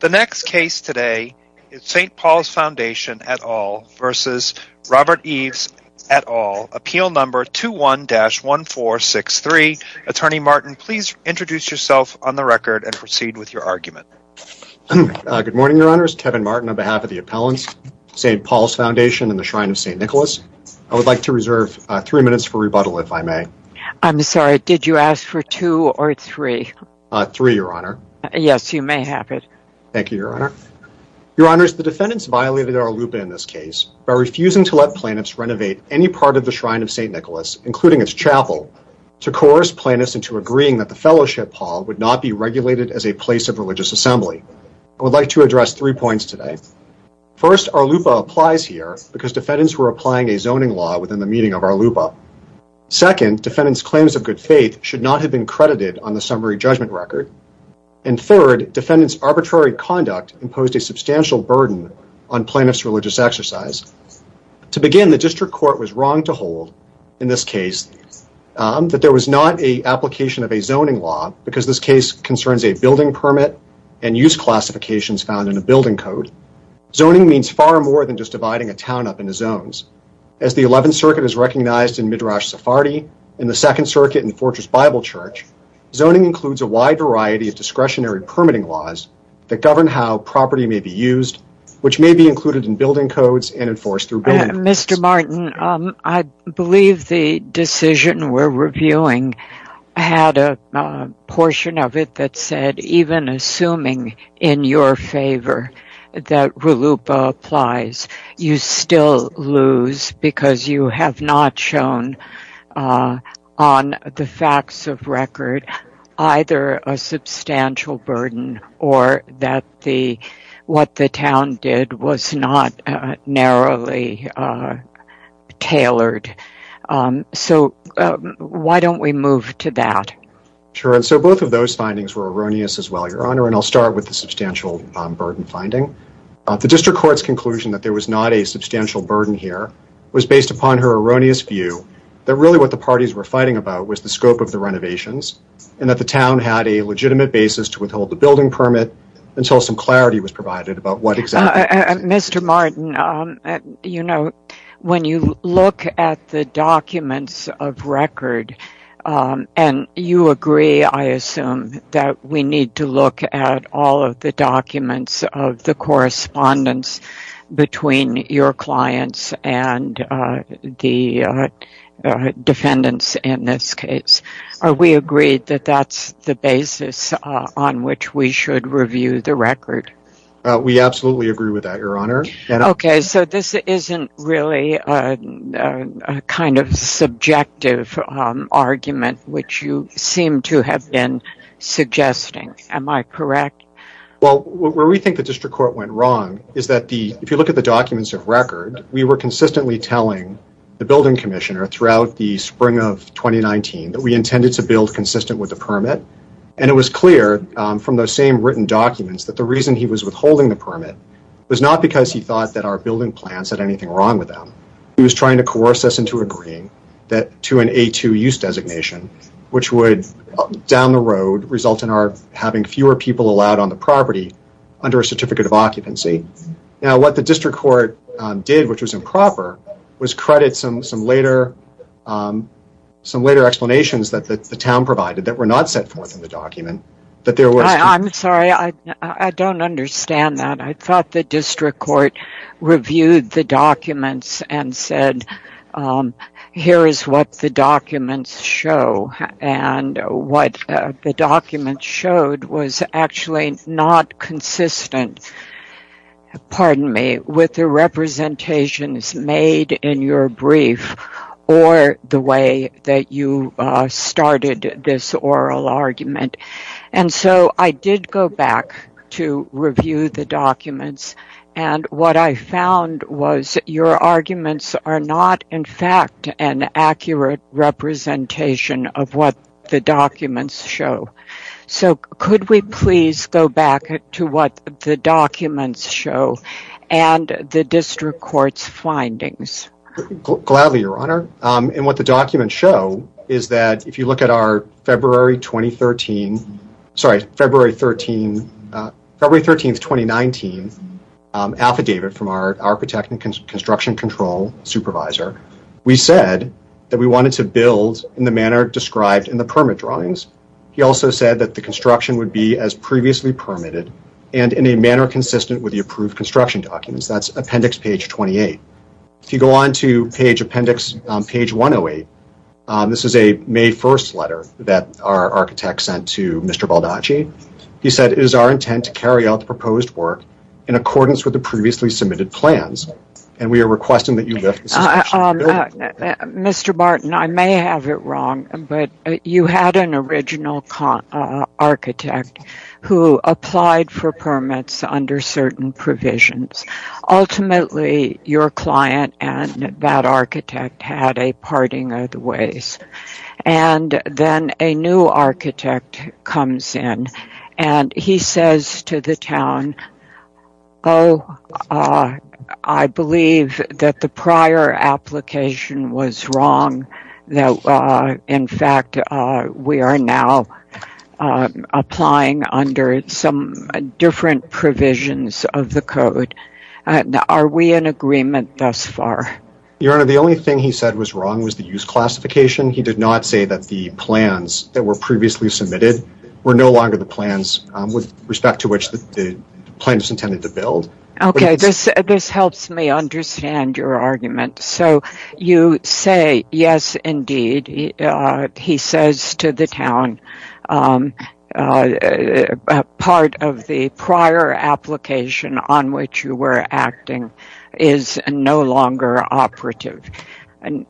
The next case today is St. Paul's Foundation et al. v. Robert Ives et al. Appeal number 21-1463. Attorney Martin, please introduce yourself on the record and proceed with your argument. Good morning, Your Honor. It's Tevin Martin on behalf of the Appellants, St. Paul's Foundation, and the Shrine of St. Nicholas. I would like to reserve three minutes for rebuttal, if I may. I'm sorry, did you ask for two or three? Three, Your Honor. Yes, you may have it. Thank you, Your Honor. Your Honors, the defendants violated our LUPA in this case by refusing to let plaintiffs renovate any part of the Shrine of St. Nicholas, including its chapel, to coerce plaintiffs into agreeing that the Fellowship Hall would not be regulated as a place of religious assembly. I would like to address three points today. First, our LUPA applies here because defendants were applying a zoning law within the meeting of our LUPA. Second, defendants' claims of good faith should not have been credited on the summary judgment record. And third, defendants' arbitrary conduct imposed a substantial burden on plaintiffs' religious exercise. To begin, the district court was wrong to hold, in this case, that there was not an application of a zoning law, because this case concerns a building permit and use classifications found in a building code. Zoning means far more than just dividing a town up into zones. As the 11th Circuit has recognized in Midrash Sephardi and the 2nd Circuit in Fortress Bible Church, zoning includes a wide variety of discretionary permitting laws that govern how property may be used, which may be included in building codes and enforced through building permits. Mr. Martin, I believe the decision we're reviewing had a portion of it that said, even assuming in your favor that RLUPA applies, you still lose because you have not shown on the facts of record either a substantial burden or that what the town did was not narrowly tailored. So why don't we move to that? Sure, and so both of those findings were erroneous as well, Your Honor, and I'll start with the substantial burden finding. The district court's conclusion that there was not a substantial burden here was based upon her erroneous view that really what the parties were fighting about was the scope of the renovations and that the town had a legitimate basis to withhold the building permit until some clarity was provided about what exactly... Mr. Martin, when you look at the documents of record, and you agree, I assume, that we need to look at all of the documents of the correspondence between your clients and the defendants in this case. Are we agreed that that's the basis on which we should review the record? We absolutely agree with that, Your Honor. Okay, so this isn't really a kind of subjective argument which you seem to have been suggesting. Am I correct? Well, where we think the district court went wrong is that if you look at the documents of record, we were consistently telling the building commissioner throughout the spring of 2019 that we intended to build consistent with the permit, and it was clear from those same written documents that the reason he was withholding the permit was not because he thought that our building plans had anything wrong with them. He was trying to coerce us into agreeing to an A2 use designation, which would, down the road, result in our having fewer people allowed on the property under a certificate of occupancy. Now, what the district court did, which was improper, was credit some later explanations that the town provided that were not set forth in the document. I'm sorry, I don't understand that. I thought the district court reviewed the documents and said, here is what the documents show, and what the documents showed was actually not consistent, pardon me, with the representations made in your brief or the way that you started this oral argument. And so I did go back to review the documents, and what I found was your arguments are not, in fact, an accurate representation of what the documents show. So could we please go back to what the documents show and the district court's findings? Gladly, Your Honor. And what the documents show is that if you look at our February 2013, sorry, February 13th, 2019 affidavit from our architect and construction control supervisor, we said that we wanted to build in the manner described in the permit drawings. He also said that the construction would be as previously permitted and in a manner consistent with the approved construction documents. That's appendix page 28. If you go on to page 108, this is a May 1st letter that our architect sent to Mr. Baldacci. He said, it is our intent to carry out the proposed work in accordance with the previously submitted plans, and we are requesting that you lift the suspension. Mr. Barton, I may have it wrong, but you had an original architect who applied for permits under certain provisions. Ultimately, your client and that architect had a parting of the ways. And then a new architect comes in, and he says to the town, Oh, I believe that the prior application was wrong. In fact, we are now applying under some different provisions of the code. Are we in agreement thus far? Your Honor, the only thing he said was wrong was the use classification. He did not say that the plans that were previously submitted were no longer the plans with respect to which the plan is intended to build. Okay, this helps me understand your argument. So you say, yes, indeed. He says to the town, part of the prior application on which you were acting is no longer operative.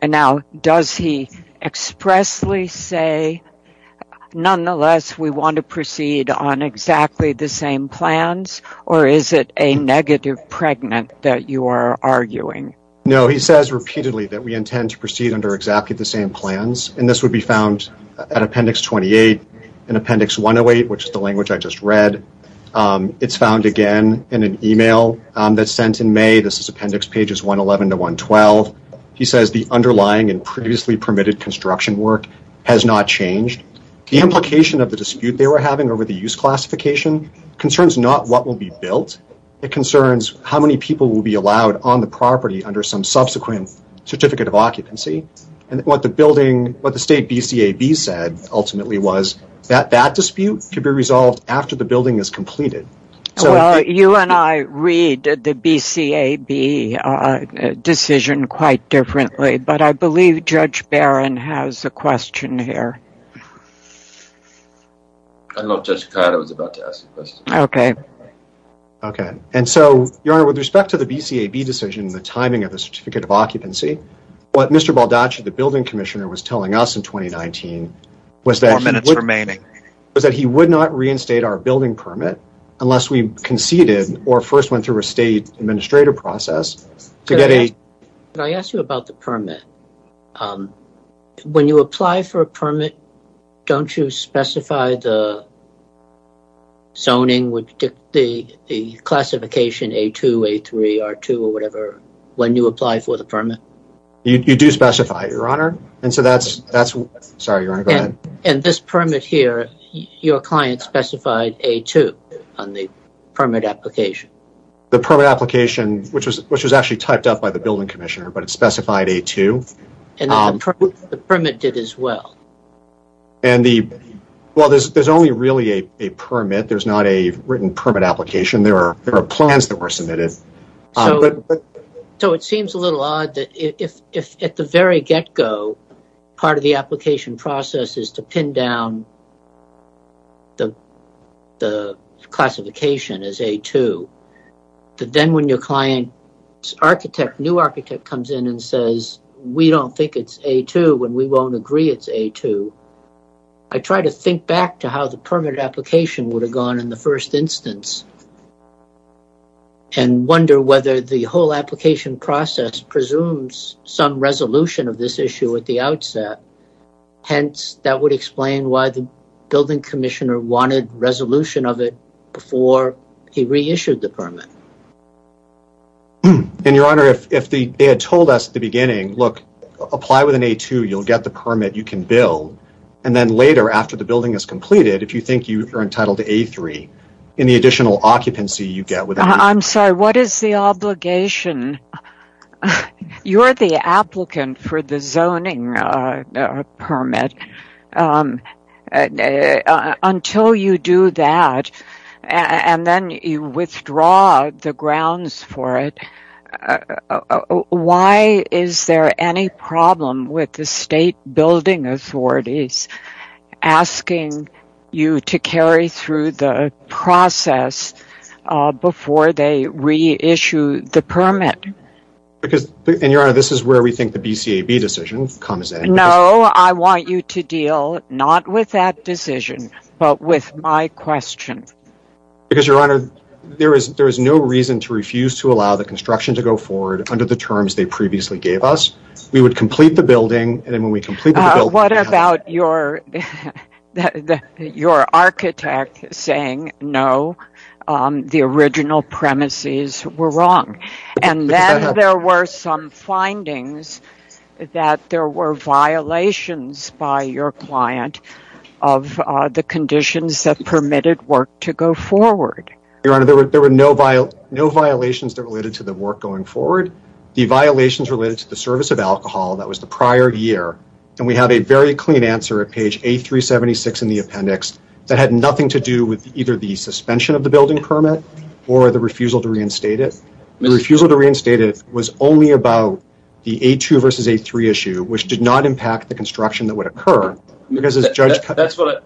Now, does he expressly say, nonetheless, we want to proceed on exactly the same plans, or is it a negative pregnant that you are arguing? No, he says repeatedly that we intend to proceed under exactly the same plans, and this would be found at Appendix 28 and Appendix 108, which is the language I just read. It's found, again, in an email that's sent in May. This is Appendix pages 111 to 112. He says the underlying and previously permitted construction work has not changed. The implication of the dispute they were having over the use classification concerns not what will be built. It concerns how many people will be allowed on the property under some subsequent certificate of occupancy, and what the State BCAB said ultimately was that that dispute could be resolved after the building is completed. Well, you and I read the BCAB decision quite differently, but I believe Judge Barron has a question here. I don't know if Judge Cotto is about to ask a question. Okay. Okay. And so, Your Honor, with respect to the BCAB decision and the timing of the certificate of occupancy, what Mr. Baldacci, the building commissioner, was telling us in 2019 was that he would not reinstate our building permit, unless we conceded or first went through a state administrative process. Could I ask you about the permit? When you apply for a permit, don't you specify the zoning, the classification A2, A3, R2, or whatever, when you apply for the permit? You do specify it, Your Honor. Sorry, Your Honor, go ahead. And this permit here, your client specified A2 on the permit application? The permit application, which was actually typed up by the building commissioner, but it specified A2. And the permit did as well? Well, there's only really a permit. There's not a written permit application. There are plans that were submitted. So it seems a little odd that if at the very get-go part of the application process is to pin down the classification as A2, that then when your client's architect, new architect, comes in and says, we don't think it's A2 and we won't agree it's A2, I try to think back to how the permit application would have gone in the first instance. And wonder whether the whole application process presumes some resolution of this issue at the outset. Hence, that would explain why the building commissioner wanted resolution of it before he reissued the permit. And, Your Honor, if they had told us at the beginning, look, apply with an A2, you'll get the permit, you can build. And then later, after the building is completed, if you think you are entitled to A3, any additional occupancy you get... I'm sorry, what is the obligation? You're the applicant for the zoning permit. Until you do that, and then you withdraw the grounds for it, why is there any problem with the state building authorities asking you to carry through the process before they reissue the permit? And, Your Honor, this is where we think the BCAB decision comes in. No, I want you to deal not with that decision, but with my question. Because, Your Honor, there is no reason to refuse to allow the construction to go forward under the terms they previously gave us. We would complete the building, and then when we complete the building... What about your architect saying, no, the original premises were wrong? And then there were some findings that there were violations by your client of the conditions that permitted work to go forward. Your Honor, there were no violations related to the work going forward. The violations related to the service of alcohol, that was the prior year, and we had a very clean answer at page A376 in the appendix that had nothing to do with either the suspension of the building permit or the refusal to reinstate it. The refusal to reinstate it was only about the A2 versus A3 issue, which did not impact the construction that would occur. That's what I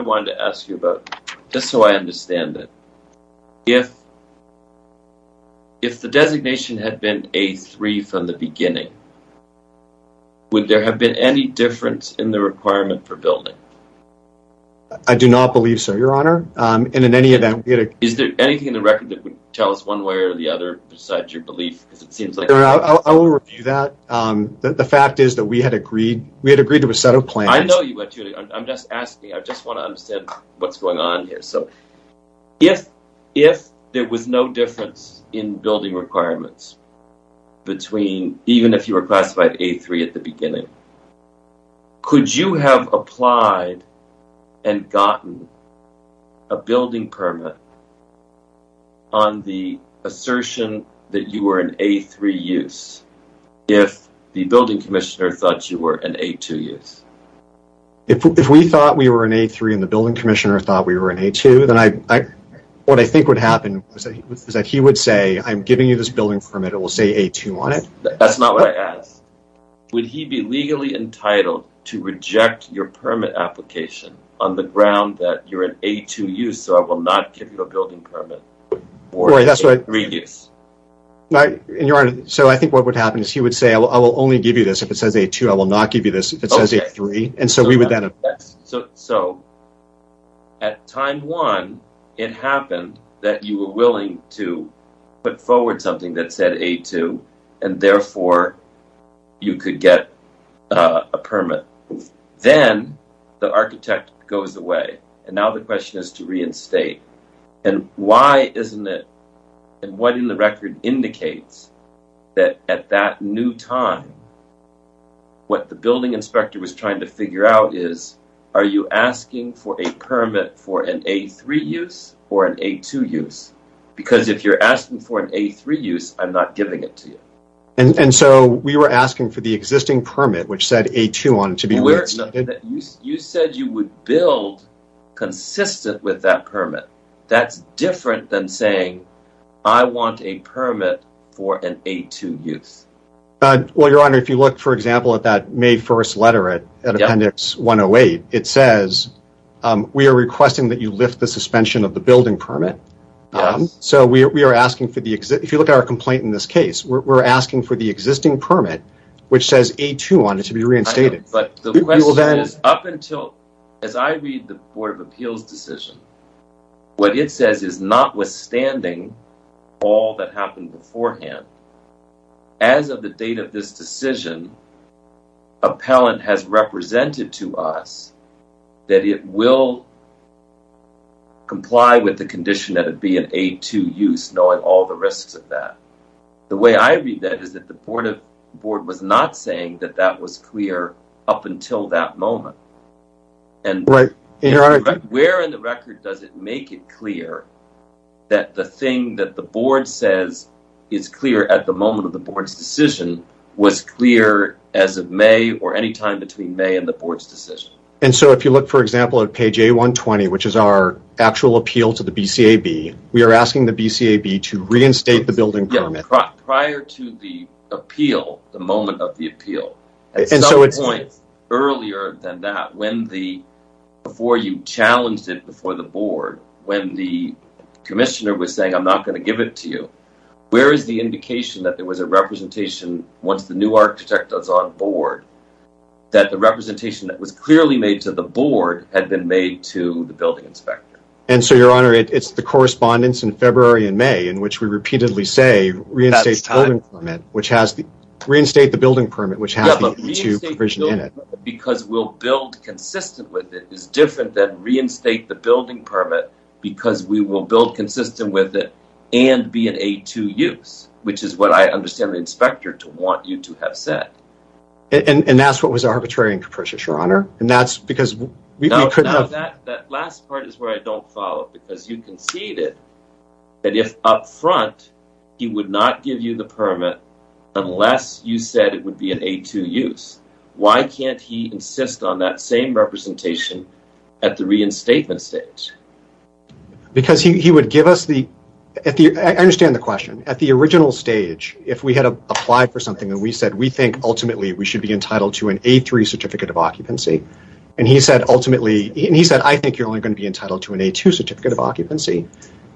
wanted to ask you about, just so I understand it. If the designation had been A3 from the beginning, would there have been any difference in the requirement for building? I do not believe so, Your Honor. Is there anything in the record that would tell us one way or the other besides your belief? I will review that. The fact is that we had agreed to a set of plans. I know you went to it. I'm just asking. I just want to understand what's going on here. If there was no difference in building requirements, even if you were classified A3 at the beginning, could you have applied and gotten a building permit on the assertion that you were an A3 use if the building commissioner thought you were an A2 use? If we thought we were an A3 and the building commissioner thought we were an A2, then what I think would happen is that he would say, I'm giving you this building permit. It will say A2 on it. That's not what I asked. Would he be legally entitled to reject your permit application on the ground that you're an A2 use, so I will not give you a building permit for A3 use? So I think what would happen is he would say, I will only give you this if it says A2. I will not give you this if it says A3. So at time one, it happened that you were willing to put forward something that said A2, and therefore you could get a permit. Then the architect goes away, and now the question is to reinstate. Why isn't it, and what in the record indicates that at that new time, what the building inspector was trying to figure out is, are you asking for a permit for an A3 use or an A2 use? Because if you're asking for an A3 use, I'm not giving it to you. And so we were asking for the existing permit, which said A2 on it, to be reinstated? You said you would build consistent with that permit. That's different than saying, I want a permit for an A2 use. Well, Your Honor, if you look, for example, at that May 1st letter at Appendix 108, it says we are requesting that you lift the suspension of the building permit. So we are asking for the, if you look at our complaint in this case, we're asking for the existing permit, which says A2 on it, to be reinstated. But the question is, up until, as I read the Board of Appeals decision, what it says is, notwithstanding all that happened beforehand, as of the date of this decision, appellant has represented to us that it will comply with the condition that it be an A2 use, knowing all the risks of that. The way I read that is that the Board was not saying that that was clear up until that moment. And where in the record does it make it clear that the thing that the Board says is clear at the moment of the Board's decision was clear as of May or any time between May and the Board's decision? And so if you look, for example, at page A120, which is our actual appeal to the BCAB, we are asking the BCAB to reinstate the building permit. Prior to the appeal, the moment of the appeal, at some point earlier than that, before you challenged it before the Board, when the commissioner was saying, I'm not going to give it to you, where is the indication that there was a representation, once the new architect is on board, that the representation that was clearly made to the Board had been made to the building inspector? And so, Your Honor, it's the correspondence in February and May in which we repeatedly say reinstate the building permit, which has the A2 provision in it. Yeah, but reinstate the building permit because we'll build consistent with it is different than reinstate the building permit because we will build consistent with it and be an A2 use, which is what I understand the inspector to want you to have said. Now, that last part is where I don't follow, because you conceded that if up front he would not give you the permit unless you said it would be an A2 use, why can't he insist on that same representation at the reinstatement stage? Because he would give us the... I understand the question. At the original stage, if we had applied for something, and we said, we think ultimately we should be entitled to an A3 certificate of occupancy, and he said, I think you're only going to be entitled to an A2 certificate of occupancy,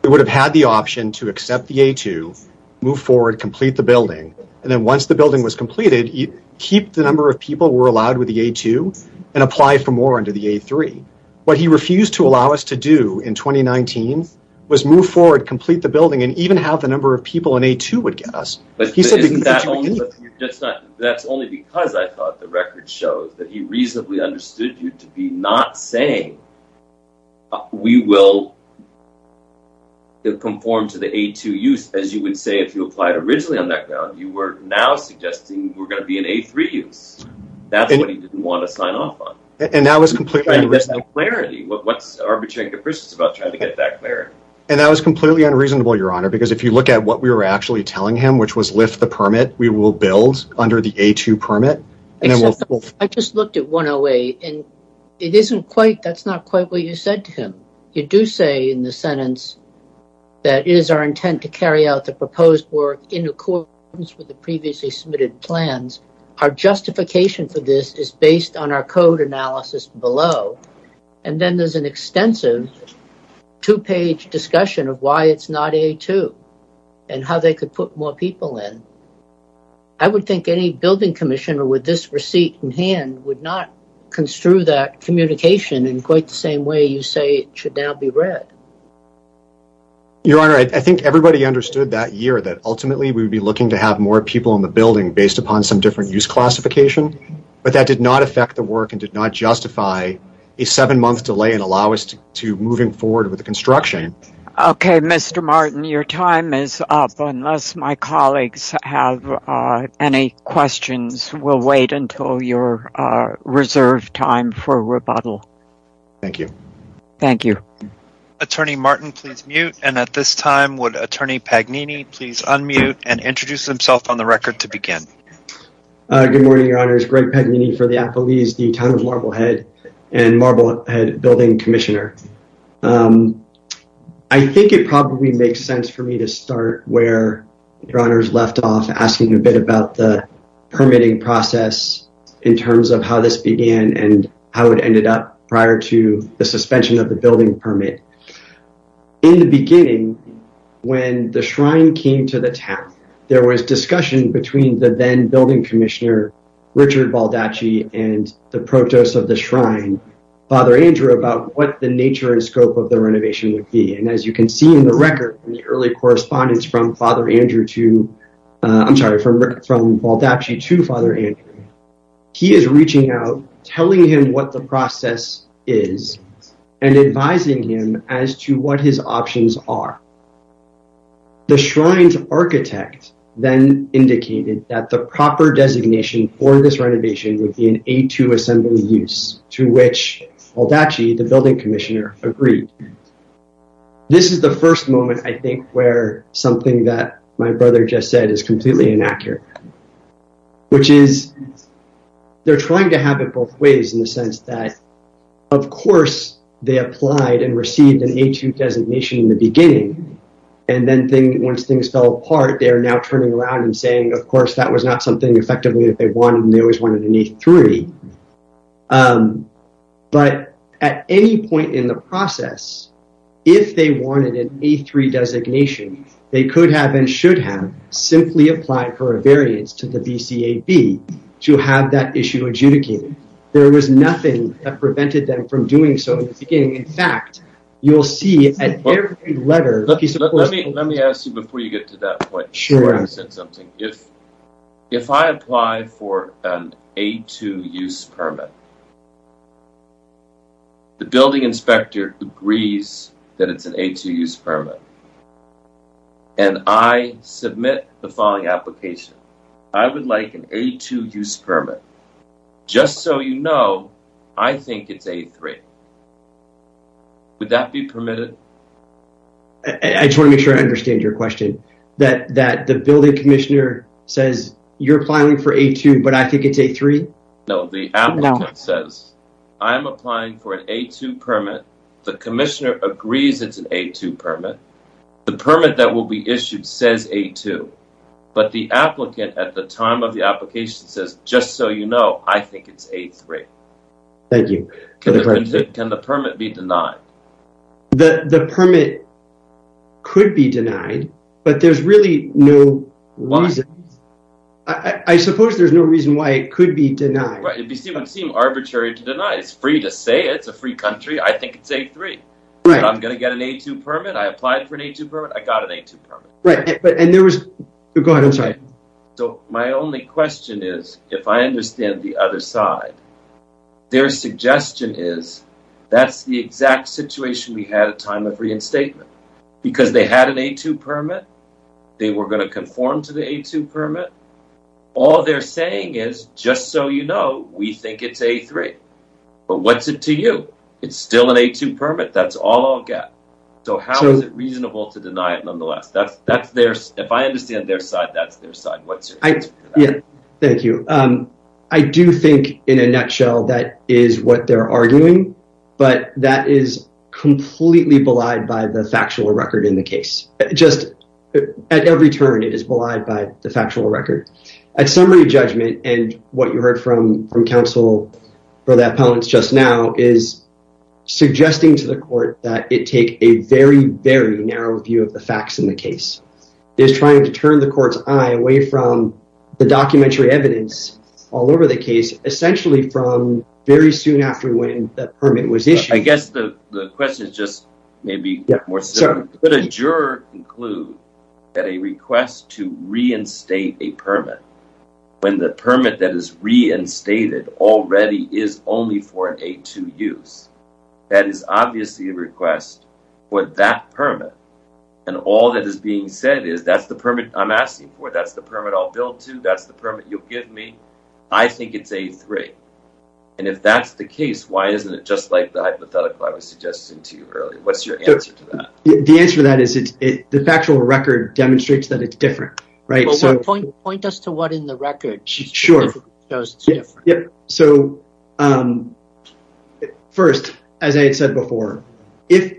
we would have had the option to accept the A2, move forward, complete the building, and then once the building was completed, keep the number of people who were allowed with the A2 and apply for more under the A3. What he refused to allow us to do in 2019 was move forward, complete the building, and even have the number of people an A2 would get us. But that's only because I thought the record showed that he reasonably understood you to be not saying we will conform to the A2 use, as you would say if you applied originally on that ground, you were now suggesting we're going to be an A3 use. That's what he didn't want to sign off on. And that was completely unreasonable. What's Arbitrary Capricious about trying to get that clarity? And that was completely unreasonable, Your Honor, because if you look at what we were actually telling him, which was lift the permit, we will build under the A2 permit. I just looked at 108, and that's not quite what you said to him. You do say in the sentence that it is our intent to carry out the proposed work in accordance with the previously submitted plans. Our justification for this is based on our code analysis below, and then there's an extensive two-page discussion of why it's not A2 and how they could put more people in. I would think any building commissioner with this receipt in hand would not construe that communication in quite the same way you say it should now be read. Your Honor, I think everybody understood that year, that ultimately we would be looking to have more people in the building based upon some different use classification, but that did not affect the work and did not justify a seven-month delay and allow us to move forward with the construction. Okay, Mr. Martin, your time is up. Unless my colleagues have any questions, we'll wait until your reserved time for rebuttal. Thank you. Thank you. Attorney Martin, please mute. And at this time, would Attorney Pagnini please unmute and introduce himself on the record to begin? Good morning, Your Honors. Greg Pagnini for the Applebee's, the Town of Marblehead, and Marblehead Building Commissioner. I think it probably makes sense for me to start where Your Honors left off, asking a bit about the permitting process in terms of how this began and how it ended up prior to the suspension of the building permit. In the beginning, when the shrine came to the town, there was discussion between the then building commissioner, Richard Baldacci, and the protos of the shrine, Father Andrew, about what the nature and scope of the renovation would be. And as you can see in the record, in the early correspondence from Baldacci to Father Andrew, he is reaching out, telling him what the process is, and advising him as to what his options are. The shrine's architect then indicated that the proper designation for this renovation would be an A2 assembly use, to which Baldacci, the building commissioner, agreed. This is the first moment, I think, where something that my brother just said is completely inaccurate, which is they're trying to have it both ways in the sense that, of course, they applied and received an A2 designation in the beginning, and then once things fell apart, they are now turning around and saying, of course, that was not something effectively that they wanted, and they always wanted an A3. But at any point in the process, if they wanted an A3 designation, they could have and should have simply applied for a variance to the BCAB to have that issue adjudicated. There was nothing that prevented them from doing so in the beginning. In fact, you'll see in every letter that he's supposed to have done. Let me ask you before you get to that point. Sure. You said something. If I apply for an A2 use permit, the building inspector agrees that it's an A2 use permit, and I submit the following application, I would like an A2 use permit. Just so you know, I think it's A3. Would that be permitted? I just want to make sure I understand your question, that the building commissioner says you're applying for A2, but I think it's A3? No, the applicant says I'm applying for an A2 permit. The commissioner agrees it's an A2 permit. The permit that will be issued says A2, but the applicant at the time of the application says, just so you know, I think it's A3. Thank you. Can the permit be denied? The permit could be denied, but there's really no reason. Why? I suppose there's no reason why it could be denied. Right. It would seem arbitrary to deny. It's free to say. It's a free country. I think it's A3. Right. I'm going to get an A2 permit. I applied for an A2 permit. I got an A2 permit. Go ahead. I'm sorry. My only question is, if I understand the other side, their suggestion is, that's the exact situation we had at time of reinstatement. Because they had an A2 permit, they were going to conform to the A2 permit. All they're saying is, just so you know, we think it's A3. But what's it to you? It's still an A2 permit. That's all I'll get. So how is it reasonable to deny it, nonetheless? If I understand their side, that's their side. Thank you. I do think, in a nutshell, that is what they're arguing. But that is completely belied by the factual record in the case. Just at every turn, it is belied by the factual record. At summary judgment, and what you heard from counsel, for the opponents just now, is suggesting to the court that it take a very, very narrow view of the facts in the case. It is trying to turn the court's eye away from the documentary evidence all over the case, essentially from very soon after when that permit was issued. I guess the question is just maybe more simple. Could a juror conclude that a request to reinstate a permit, when the permit that is reinstated already is only for an A2 use, that is obviously a request for that permit, and all that is being said is, that's the permit I'm asking for, that's the permit I'll bill to, that's the permit you'll give me. I think it's A3. And if that's the case, why isn't it just like the hypothetical I was suggesting to you earlier? What's your answer to that? The answer to that is the factual record demonstrates that it's different. Point us to what in the record shows it's different. First, as I had said before, if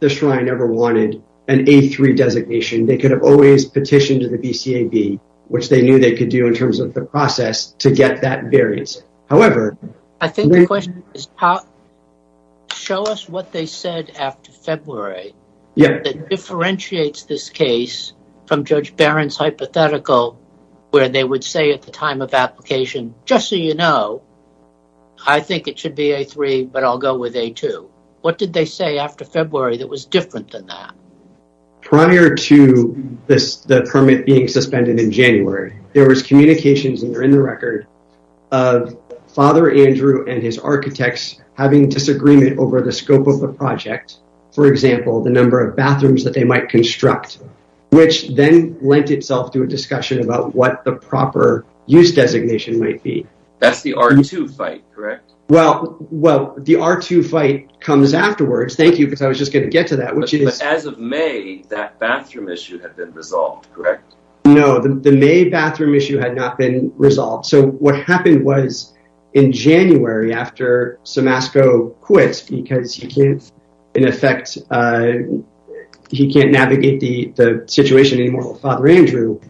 the Shrine ever wanted an A3 designation, they could have always petitioned to the BCAB, which they knew they could do in terms of the process, to get that variance. Show us what they said after February, that differentiates this case from Judge Barron's hypothetical, where they would say at the time of application, just so you know, I think it should be A3, but I'll go with A2. What did they say after February that was different than that? Prior to the permit being suspended in January, there was communications in the record of Father Andrew and his architects having disagreement over the scope of the project. For example, the number of bathrooms that they might construct, which then lent itself to a discussion about what the proper use designation might be. That's the R2 fight, correct? Well, the R2 fight comes afterwards. Thank you, because I was just going to get to that. But as of May, that bathroom issue had been resolved, correct? No, the May bathroom issue had not been resolved. So what happened was in January, after Somasco quits because he can't, in effect, he can't navigate the situation anymore with Father Andrew,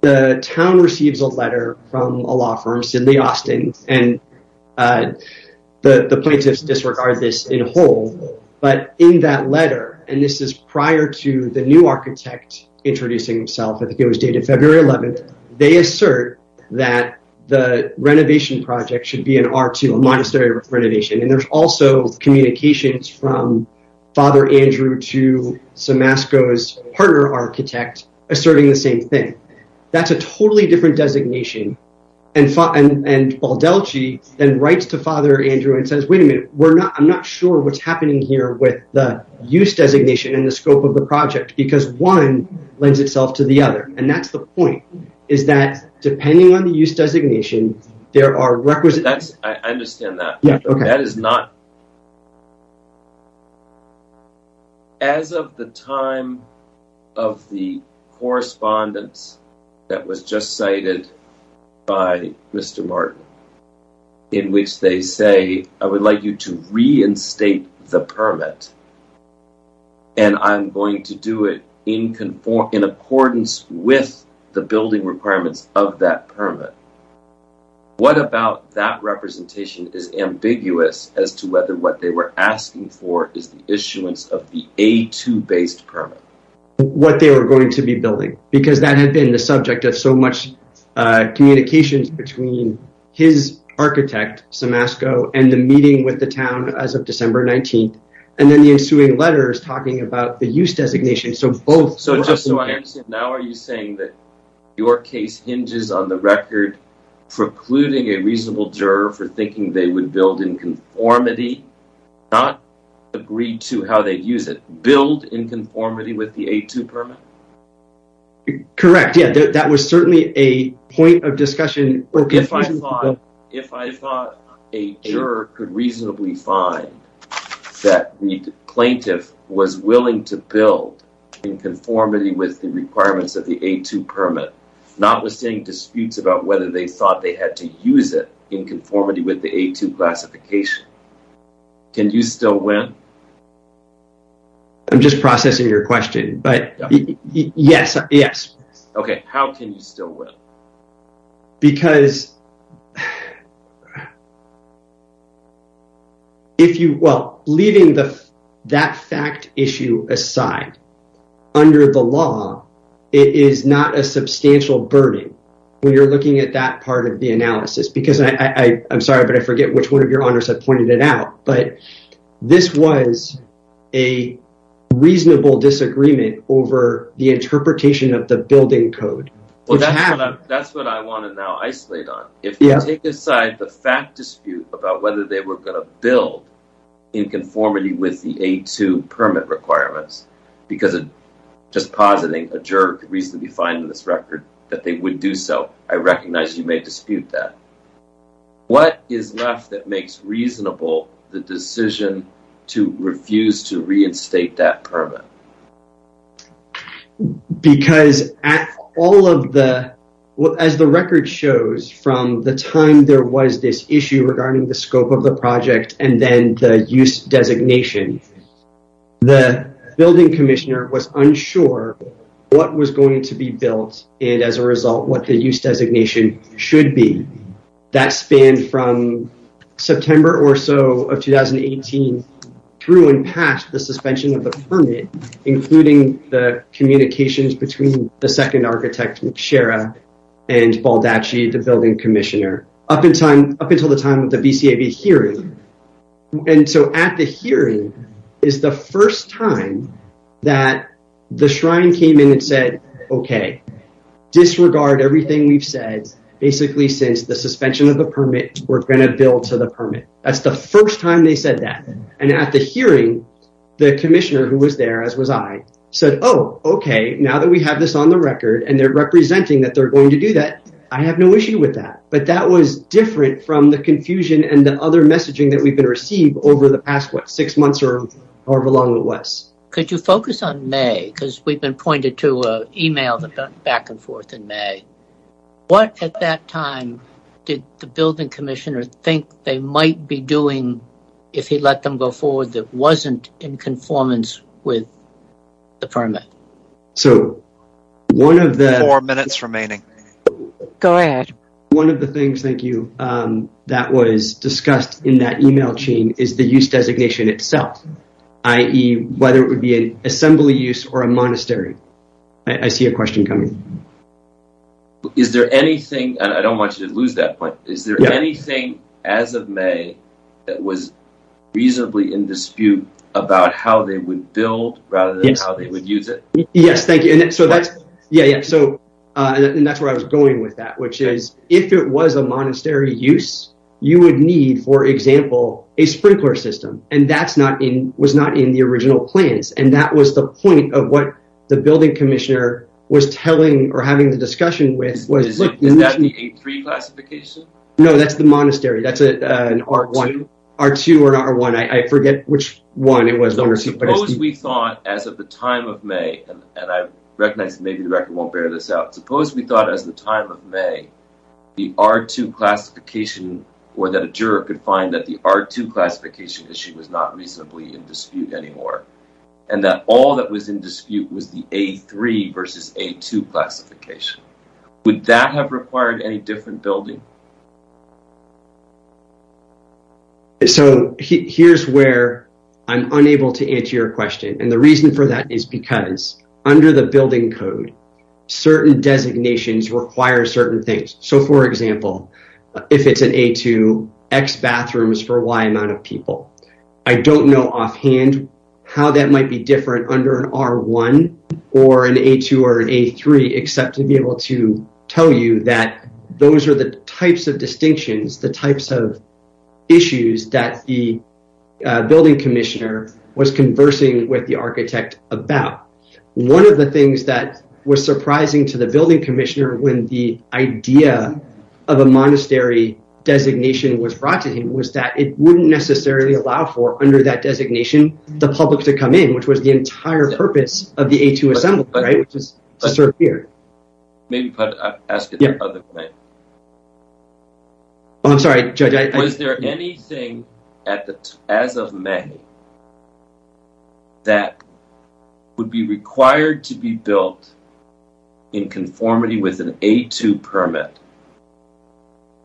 the town receives a letter from a law firm, Sidney Austin, and the plaintiffs disregard this in whole. But in that letter, and this is prior to the new architect introducing himself, I think it was dated February 11th, they assert that the renovation project should be an R2, a monastery renovation. And there's also communications from Father Andrew to Somasco's partner architect asserting the same thing. That's a totally different designation. And Baldelci then writes to Father Andrew and says, wait a minute, I'm not sure what's happening here with the use designation and the scope of the project, because one lends itself to the other. And that's the point, is that depending on the use designation, there are requisites. I understand that. That is not... As of the time of the correspondence that was just cited by Mr. Martin, in which they say, I would like you to reinstate the permit, and I'm going to do it in accordance with the building requirements of that permit. What about that representation is ambiguous as to whether what they were asking for is the issuance of the A2-based permit? What they were going to be building, because that had been the subject of so much communications between his architect, Somasco, and the meeting with the town as of December 19th. And then the ensuing letters talking about the use designation. So both... So now are you saying that your case hinges on the record precluding a reasonable juror for thinking they would build in conformity, not agreed to how they'd use it, build in conformity with the A2 permit? Correct. Yeah, that was certainly a point of discussion. If I thought a juror could reasonably find that the plaintiff was willing to build in conformity with the requirements of the A2 permit, not withstanding disputes about whether they thought they had to use it in conformity with the A2 classification, can you still win? I'm just processing your question, but yes, yes. Okay, how can you still win? Because... If you... Well, leaving that fact issue aside, under the law, it is not a substantial burden when you're looking at that part of the analysis. Because I... I'm sorry, but I forget which one of your honors had pointed it out. But this was a reasonable disagreement over the interpretation of the building code. Well, that's what I want to now isolate on. If you take aside the fact dispute about whether they were going to build in conformity with the A2 permit requirements, because just positing a juror could reasonably find in this record that they would do so, I recognize you may dispute that. What is left that makes reasonable the decision to refuse to reinstate that permit? Because at all of the... From the time there was this issue regarding the scope of the project and then the use designation, the building commissioner was unsure what was going to be built and, as a result, what the use designation should be. That spanned from September or so of 2018 through and past the suspension of the permit, including the communications between the second architect, McShara, and Baldacci, the building commissioner, up until the time of the BCAB hearing. And so at the hearing is the first time that the Shrine came in and said, okay, disregard everything we've said, basically since the suspension of the permit, we're going to build to the permit. That's the first time they said that. And at the hearing, the commissioner, who was there, as was I, said, oh, okay, now that we have this on the record and they're representing that they're going to do that, I have no issue with that. But that was different from the confusion and the other messaging that we've been receiving over the past, what, six months or along the West. Could you focus on May? Because we've been pointed to an email that went back and forth in May. What, at that time, did the building commissioner think they might be doing if he let them go forward that wasn't in conformance with the permit? So one of the... Four minutes remaining. Go ahead. One of the things, thank you, that was discussed in that email chain is the use designation itself, i.e., whether it would be an assembly use or a monastery. I see a question coming. Is there anything, and I don't want you to lose that point, is there anything as of May that was reasonably in dispute about how they would build rather than how they would use it? Yes, thank you. And that's where I was going with that, which is if it was a monastery use, you would need, for example, a sprinkler system, and that was not in the original plans. And that was the point of what the building commissioner was telling or having the discussion with. Is that the A3 classification? No, that's the monastery. That's an R2 or an R1. I forget which one it was. Suppose we thought as of the time of May, and I recognize maybe the record won't bear this out, suppose we thought as of the time of May the R2 classification or that a juror could find that the R2 classification issue was not reasonably in dispute anymore and that all that was in dispute was the A3 versus A2 classification. Would that have required any different building? So here's where I'm unable to answer your question, and the reason for that is because under the building code, certain designations require certain things. So, for example, if it's an A2, X bathrooms for Y amount of people. I don't know offhand how that might be different under an R1 or an A2 or an A3 except to be able to tell you that those are the types of distinctions, the types of issues that the building commissioner was conversing with the architect about. One of the things that was surprising to the building commissioner when the idea of a monastery designation was brought to him was that it wouldn't necessarily allow for under that designation the public to come in, which was the entire purpose of the A2 assembly, right, which is to serve here. Maybe ask it the other way. Oh, I'm sorry, Judge. Was there anything as of May that would be required to be built in conformity with an A2 permit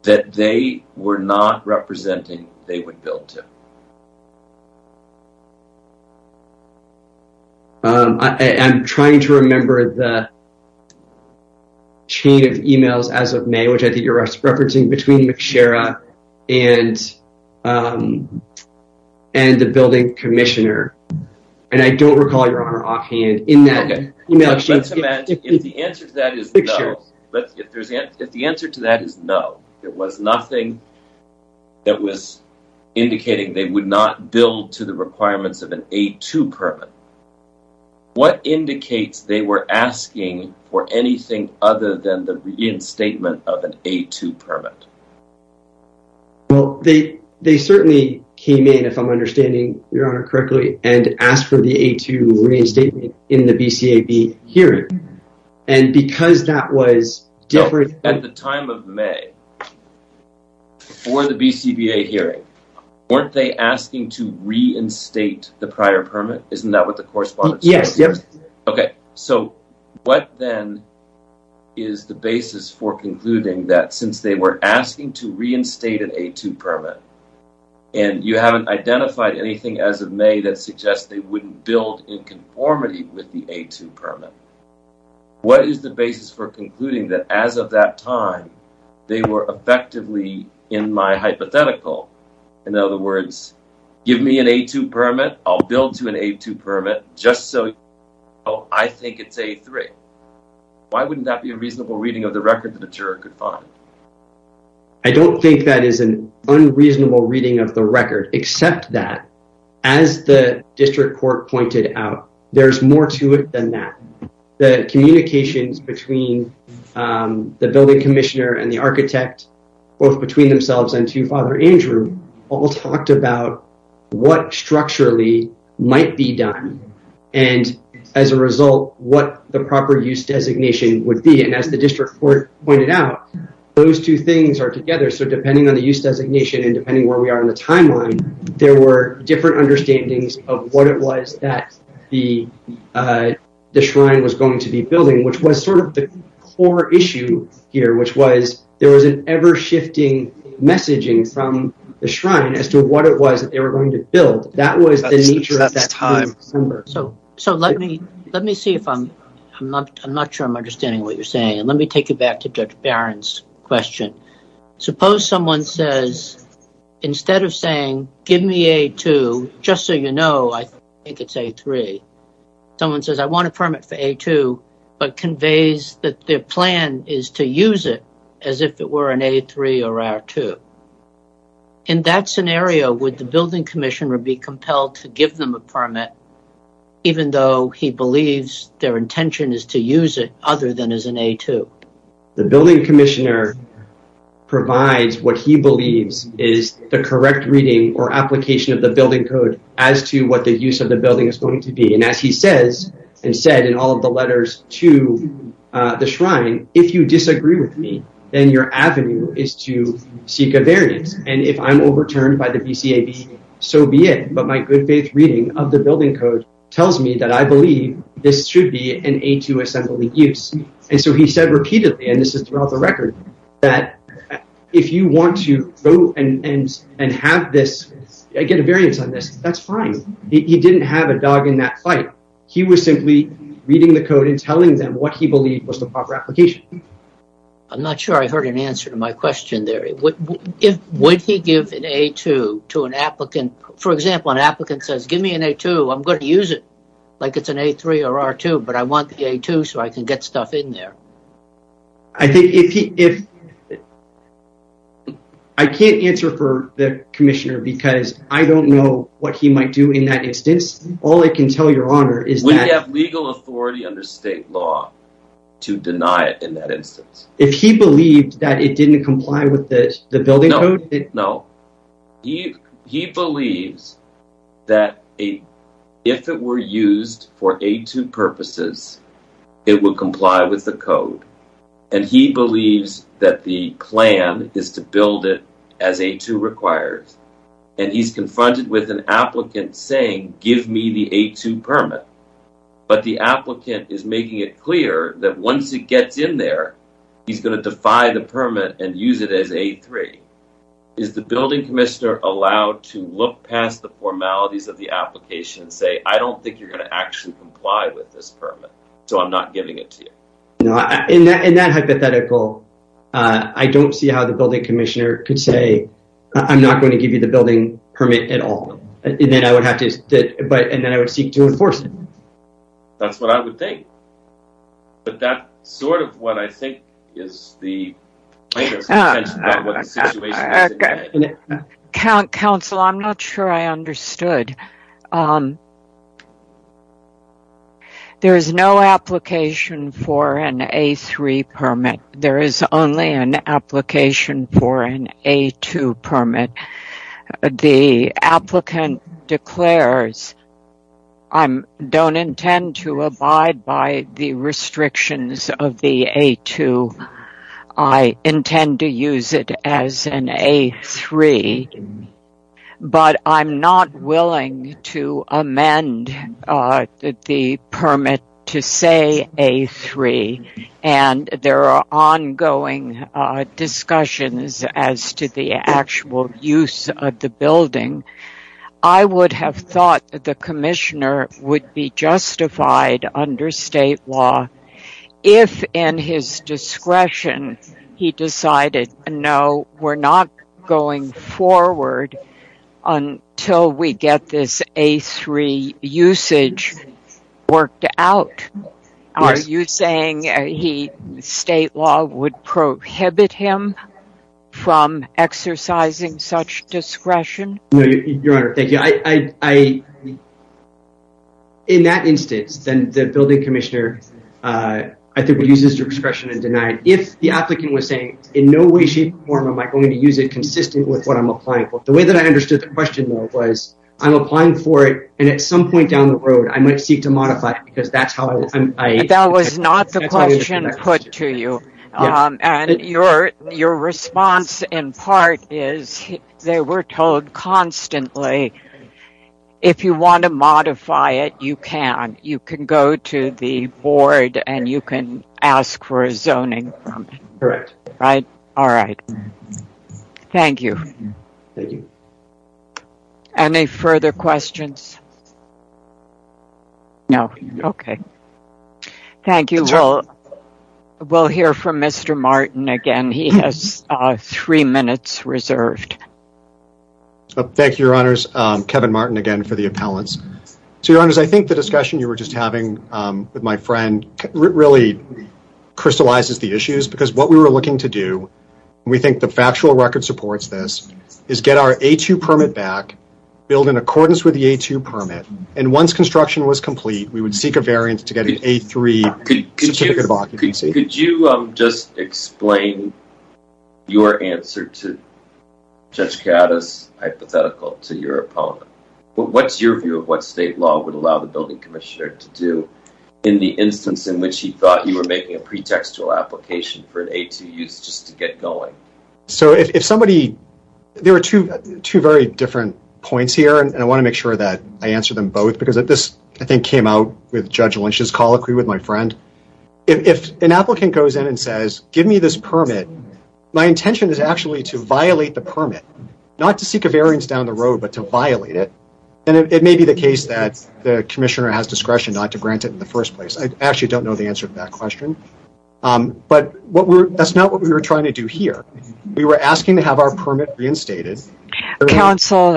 that they were not representing they would build to? I'm trying to remember the chain of e-mails as of May, which I think you're referencing, between McShera and the building commissioner, and I don't recall your Honor offhand in that e-mail exchange. The answer to that is no. The answer to that is no. There was nothing that was indicating they would not build to the requirements of an A2 permit. What indicates they were asking for anything other than the reinstatement of an A2 permit? Well, they certainly came in, if I'm understanding your Honor correctly, and asked for the A2 reinstatement in the BCAB hearing, and because that was different... At the time of May, before the BCBA hearing, weren't they asking to reinstate the prior permit? Isn't that what the correspondence... Yes, yes. Okay, so what then is the basis for concluding that since they were asking to reinstate an A2 permit, and you haven't identified anything as of May that suggests they wouldn't build in conformity with the A2 permit, what is the basis for concluding that as of that time, they were effectively in my hypothetical? In other words, give me an A2 permit, I'll build to an A2 permit, just so you know I think it's A3. Why wouldn't that be a reasonable reading of the record that a juror could find? I don't think that is an unreasonable reading of the record, except that, as the district court pointed out, there's more to it than that. The communications between the building commissioner and the architect, both between themselves and to Father Andrew, all talked about what structurally might be done, and as a result, what the proper use designation would be. And as the district court pointed out, those two things are together. So depending on the use designation and depending where we are in the timeline, there were different understandings of what it was that the shrine was going to be building, which was sort of the core issue here, which was there was an ever-shifting messaging from the shrine as to what it was that they were going to build. That was the nature of that time. So let me see if I'm... I'm not sure I'm understanding what you're saying. Let me take you back to Judge Barron's question. Suppose someone says, instead of saying, give me A2, just so you know, I think it's A3. Someone says, I want a permit for A2, but conveys that their plan is to use it as if it were an A3 or R2. In that scenario, would the building commissioner be compelled to give them a permit even though he believes their intention is to use it other than as an A2? The building commissioner provides what he believes is the correct reading or application of the building code as to what the use of the building is going to be. And as he says, and said in all of the letters to the shrine, if you disagree with me, then your avenue is to seek a variance. And if I'm overturned by the BCAB, so be it. But my good faith reading of the building code tells me that I believe this should be an A2 assembly use. And so he said repeatedly, and this is throughout the record, that if you want to go and have this, get a variance on this, that's fine. He didn't have a dog in that fight. He was simply reading the code and telling them what he believed was the proper application. I'm not sure I heard an answer to my question there. Would he give an A2 to an applicant? For example, an applicant says, give me an A2, I'm going to use it like it's an A3 or R2, but I want the A2 so I can get stuff in there. I think if... I can't answer for the commissioner because I don't know what he might do in that instance. All I can tell your honor is that... We have legal authority under state law to deny it in that instance. If he believed that it didn't comply with the building code... No, no. He believes that if it were used for A2 purposes, it would comply with the code. And he believes that the plan is to build it as A2 requires and he's confronted with an applicant saying, give me the A2 permit. But the applicant is making it clear that once it gets in there, he's going to defy the permit and use it as A3. Is the building commissioner allowed to look past the formalities of the application and say, I don't think you're going to actually comply with this permit, so I'm not giving it to you? In that hypothetical, I don't see how the building commissioner could say, I'm not going to give you the building permit at all. And then I would have to... And then I would seek to enforce it. That's what I would think. But that's sort of what I think is the... Council, I'm not sure I understood. There is no application for an A3 permit. There is only an application for an A2 permit. The applicant declares, I don't intend to abide by the restrictions of the A2. I intend to use it as an A3. But I'm not willing to amend the permit to say A3. And there are ongoing discussions as to the actual use of the building. I would have thought that the commissioner would be justified under state law if in his discretion he decided, no, we're not going forward until we get this A3 usage worked out. Are you saying state law would prohibit him from exercising such discretion? No, Your Honor. Thank you. In that instance, then the building commissioner I think would use his discretion and deny it. If the applicant was saying in no way, shape, or form am I going to use it consistent with what I'm applying for. The way that I understood the question though was I'm applying for it and at some point down the road I might seek to modify it because that's how I... That was not the question put to you. And your response in part is they were told constantly if you want to modify it you can. You can go to the board and you can ask for a zoning. Correct. All right. Thank you. Thank you. Any further questions? No, okay. Thank you. We'll hear from Mr. Martin again. He has three minutes reserved. Thank you, Your Honors. Kevin Martin again for the appellants. So, Your Honors, I think the discussion you were just having with my friend really crystallizes the issues because what we were looking to do and we think the factual record supports this is get our A2 permit back build in accordance with the A2 permit and once construction was complete we would seek a variance to get an A3 certificate of occupancy. Could you just explain your answer to Judge Gattas hypothetical to your opponent? What's your view of what state law would allow the building commissioner to do in the instance in which he thought you were making a pretextual application for an A2 use just to get going? There are two very different points here and I want to make sure that I answer them both because this, I think, came out with Judge Lynch's colloquy with my friend. If an applicant goes in and says give me this permit my intention is actually to violate the permit not to seek a variance down the road but to violate it and it may be the case that the commissioner has discretion not to grant it in the first place. I actually don't know the answer to that question but that's not what we were trying to do here. We were asking to have our permit reinstated. Counsel,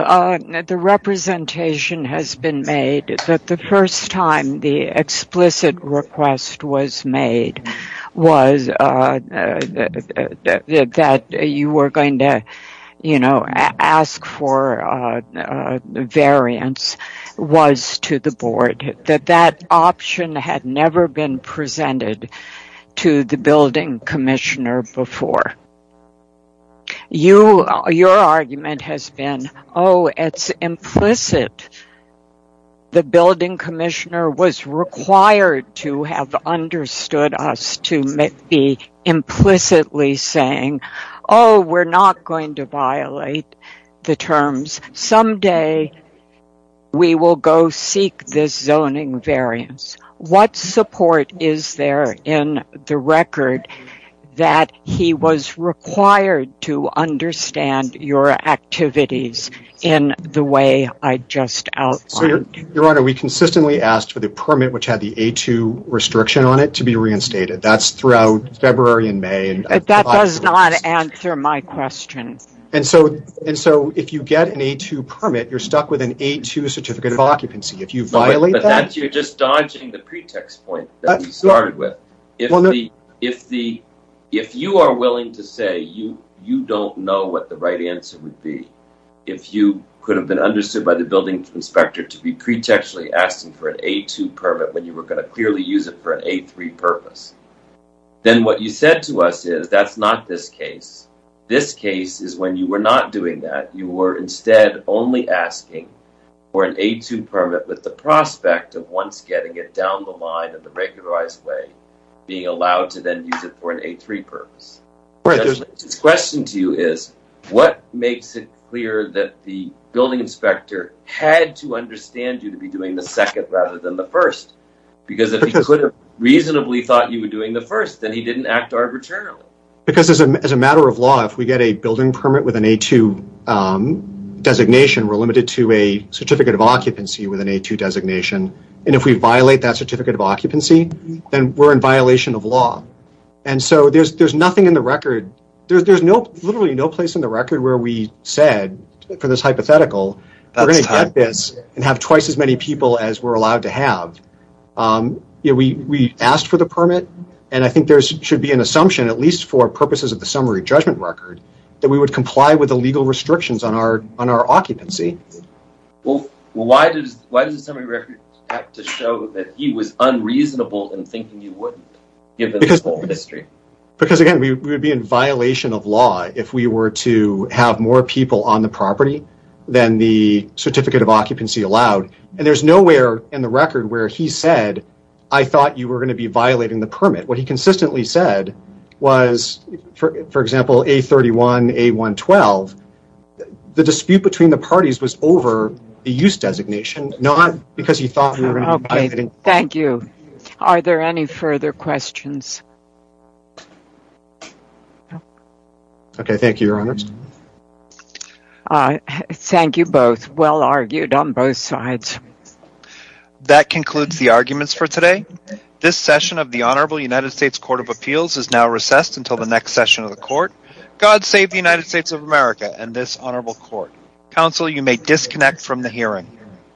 the representation has been made that the first time the explicit request was made that you were going to ask for variance was to the board that that option had never been presented to the building commissioner before. Your argument has been oh, it's implicit the building commissioner was required to have understood us to be implicitly saying oh, we're not going to violate the terms someday we will go seek this zoning variance. What support is there in the record that he was required to understand your activities in the way I just outlined? Your Honor, we consistently asked for the permit which had the A2 restriction on it to be reinstated. That's throughout February and May. That does not answer my question. And so if you get an A2 permit you're stuck with an A2 certificate of occupancy. If you violate that You're just dodging the pretext point that we started with. If you are willing to say you don't know what the right answer would be if you could have been understood by the building inspector to be pretextually asking for an A2 permit when you were going to clearly use it for an A3 purpose then what you said to us is that's not this case. This case is when you were not doing that. You were instead only asking for an A2 permit with the prospect of once getting it down the line in the regularized way being allowed to then use it for an A3 purpose. The question to you is what makes it clear that the building inspector had to understand you to be doing the second rather than the first because if he could have reasonably thought you were doing the first then he didn't act arbitrarily. Because as a matter of law if we get a building permit with an A2 designation we're limited to a certificate of occupancy with an A2 designation and if we violate that certificate of occupancy then we're in violation of law. And so there's nothing in the record there's literally no place in the record where we said for this hypothetical we're going to get this and have twice as many people as we're allowed to have. We asked for the permit and I think there should be an assumption at least for purposes of the summary judgment record that we would comply with the legal restrictions on our occupancy. Well why does the summary record have to show that he was unreasonable in thinking you wouldn't given this whole history? Because again we would be in violation of law if we were to have more people on the property than the certificate of occupancy allowed. And there's nowhere in the record where he said I thought you were going to be violating the permit. What he consistently said was for example A31, A112 the dispute between the parties was over the use designation not because he thought we were going to be violating. Thank you. Are there any further questions? Okay thank you Your Honor. Thank you both. Well argued on both sides. That concludes the arguments for today. This session of the Honorable United States Court of Appeals is now recessed until the next session of the court. God save the United States of America and this honorable court. Counsel you may disconnect from the hearing.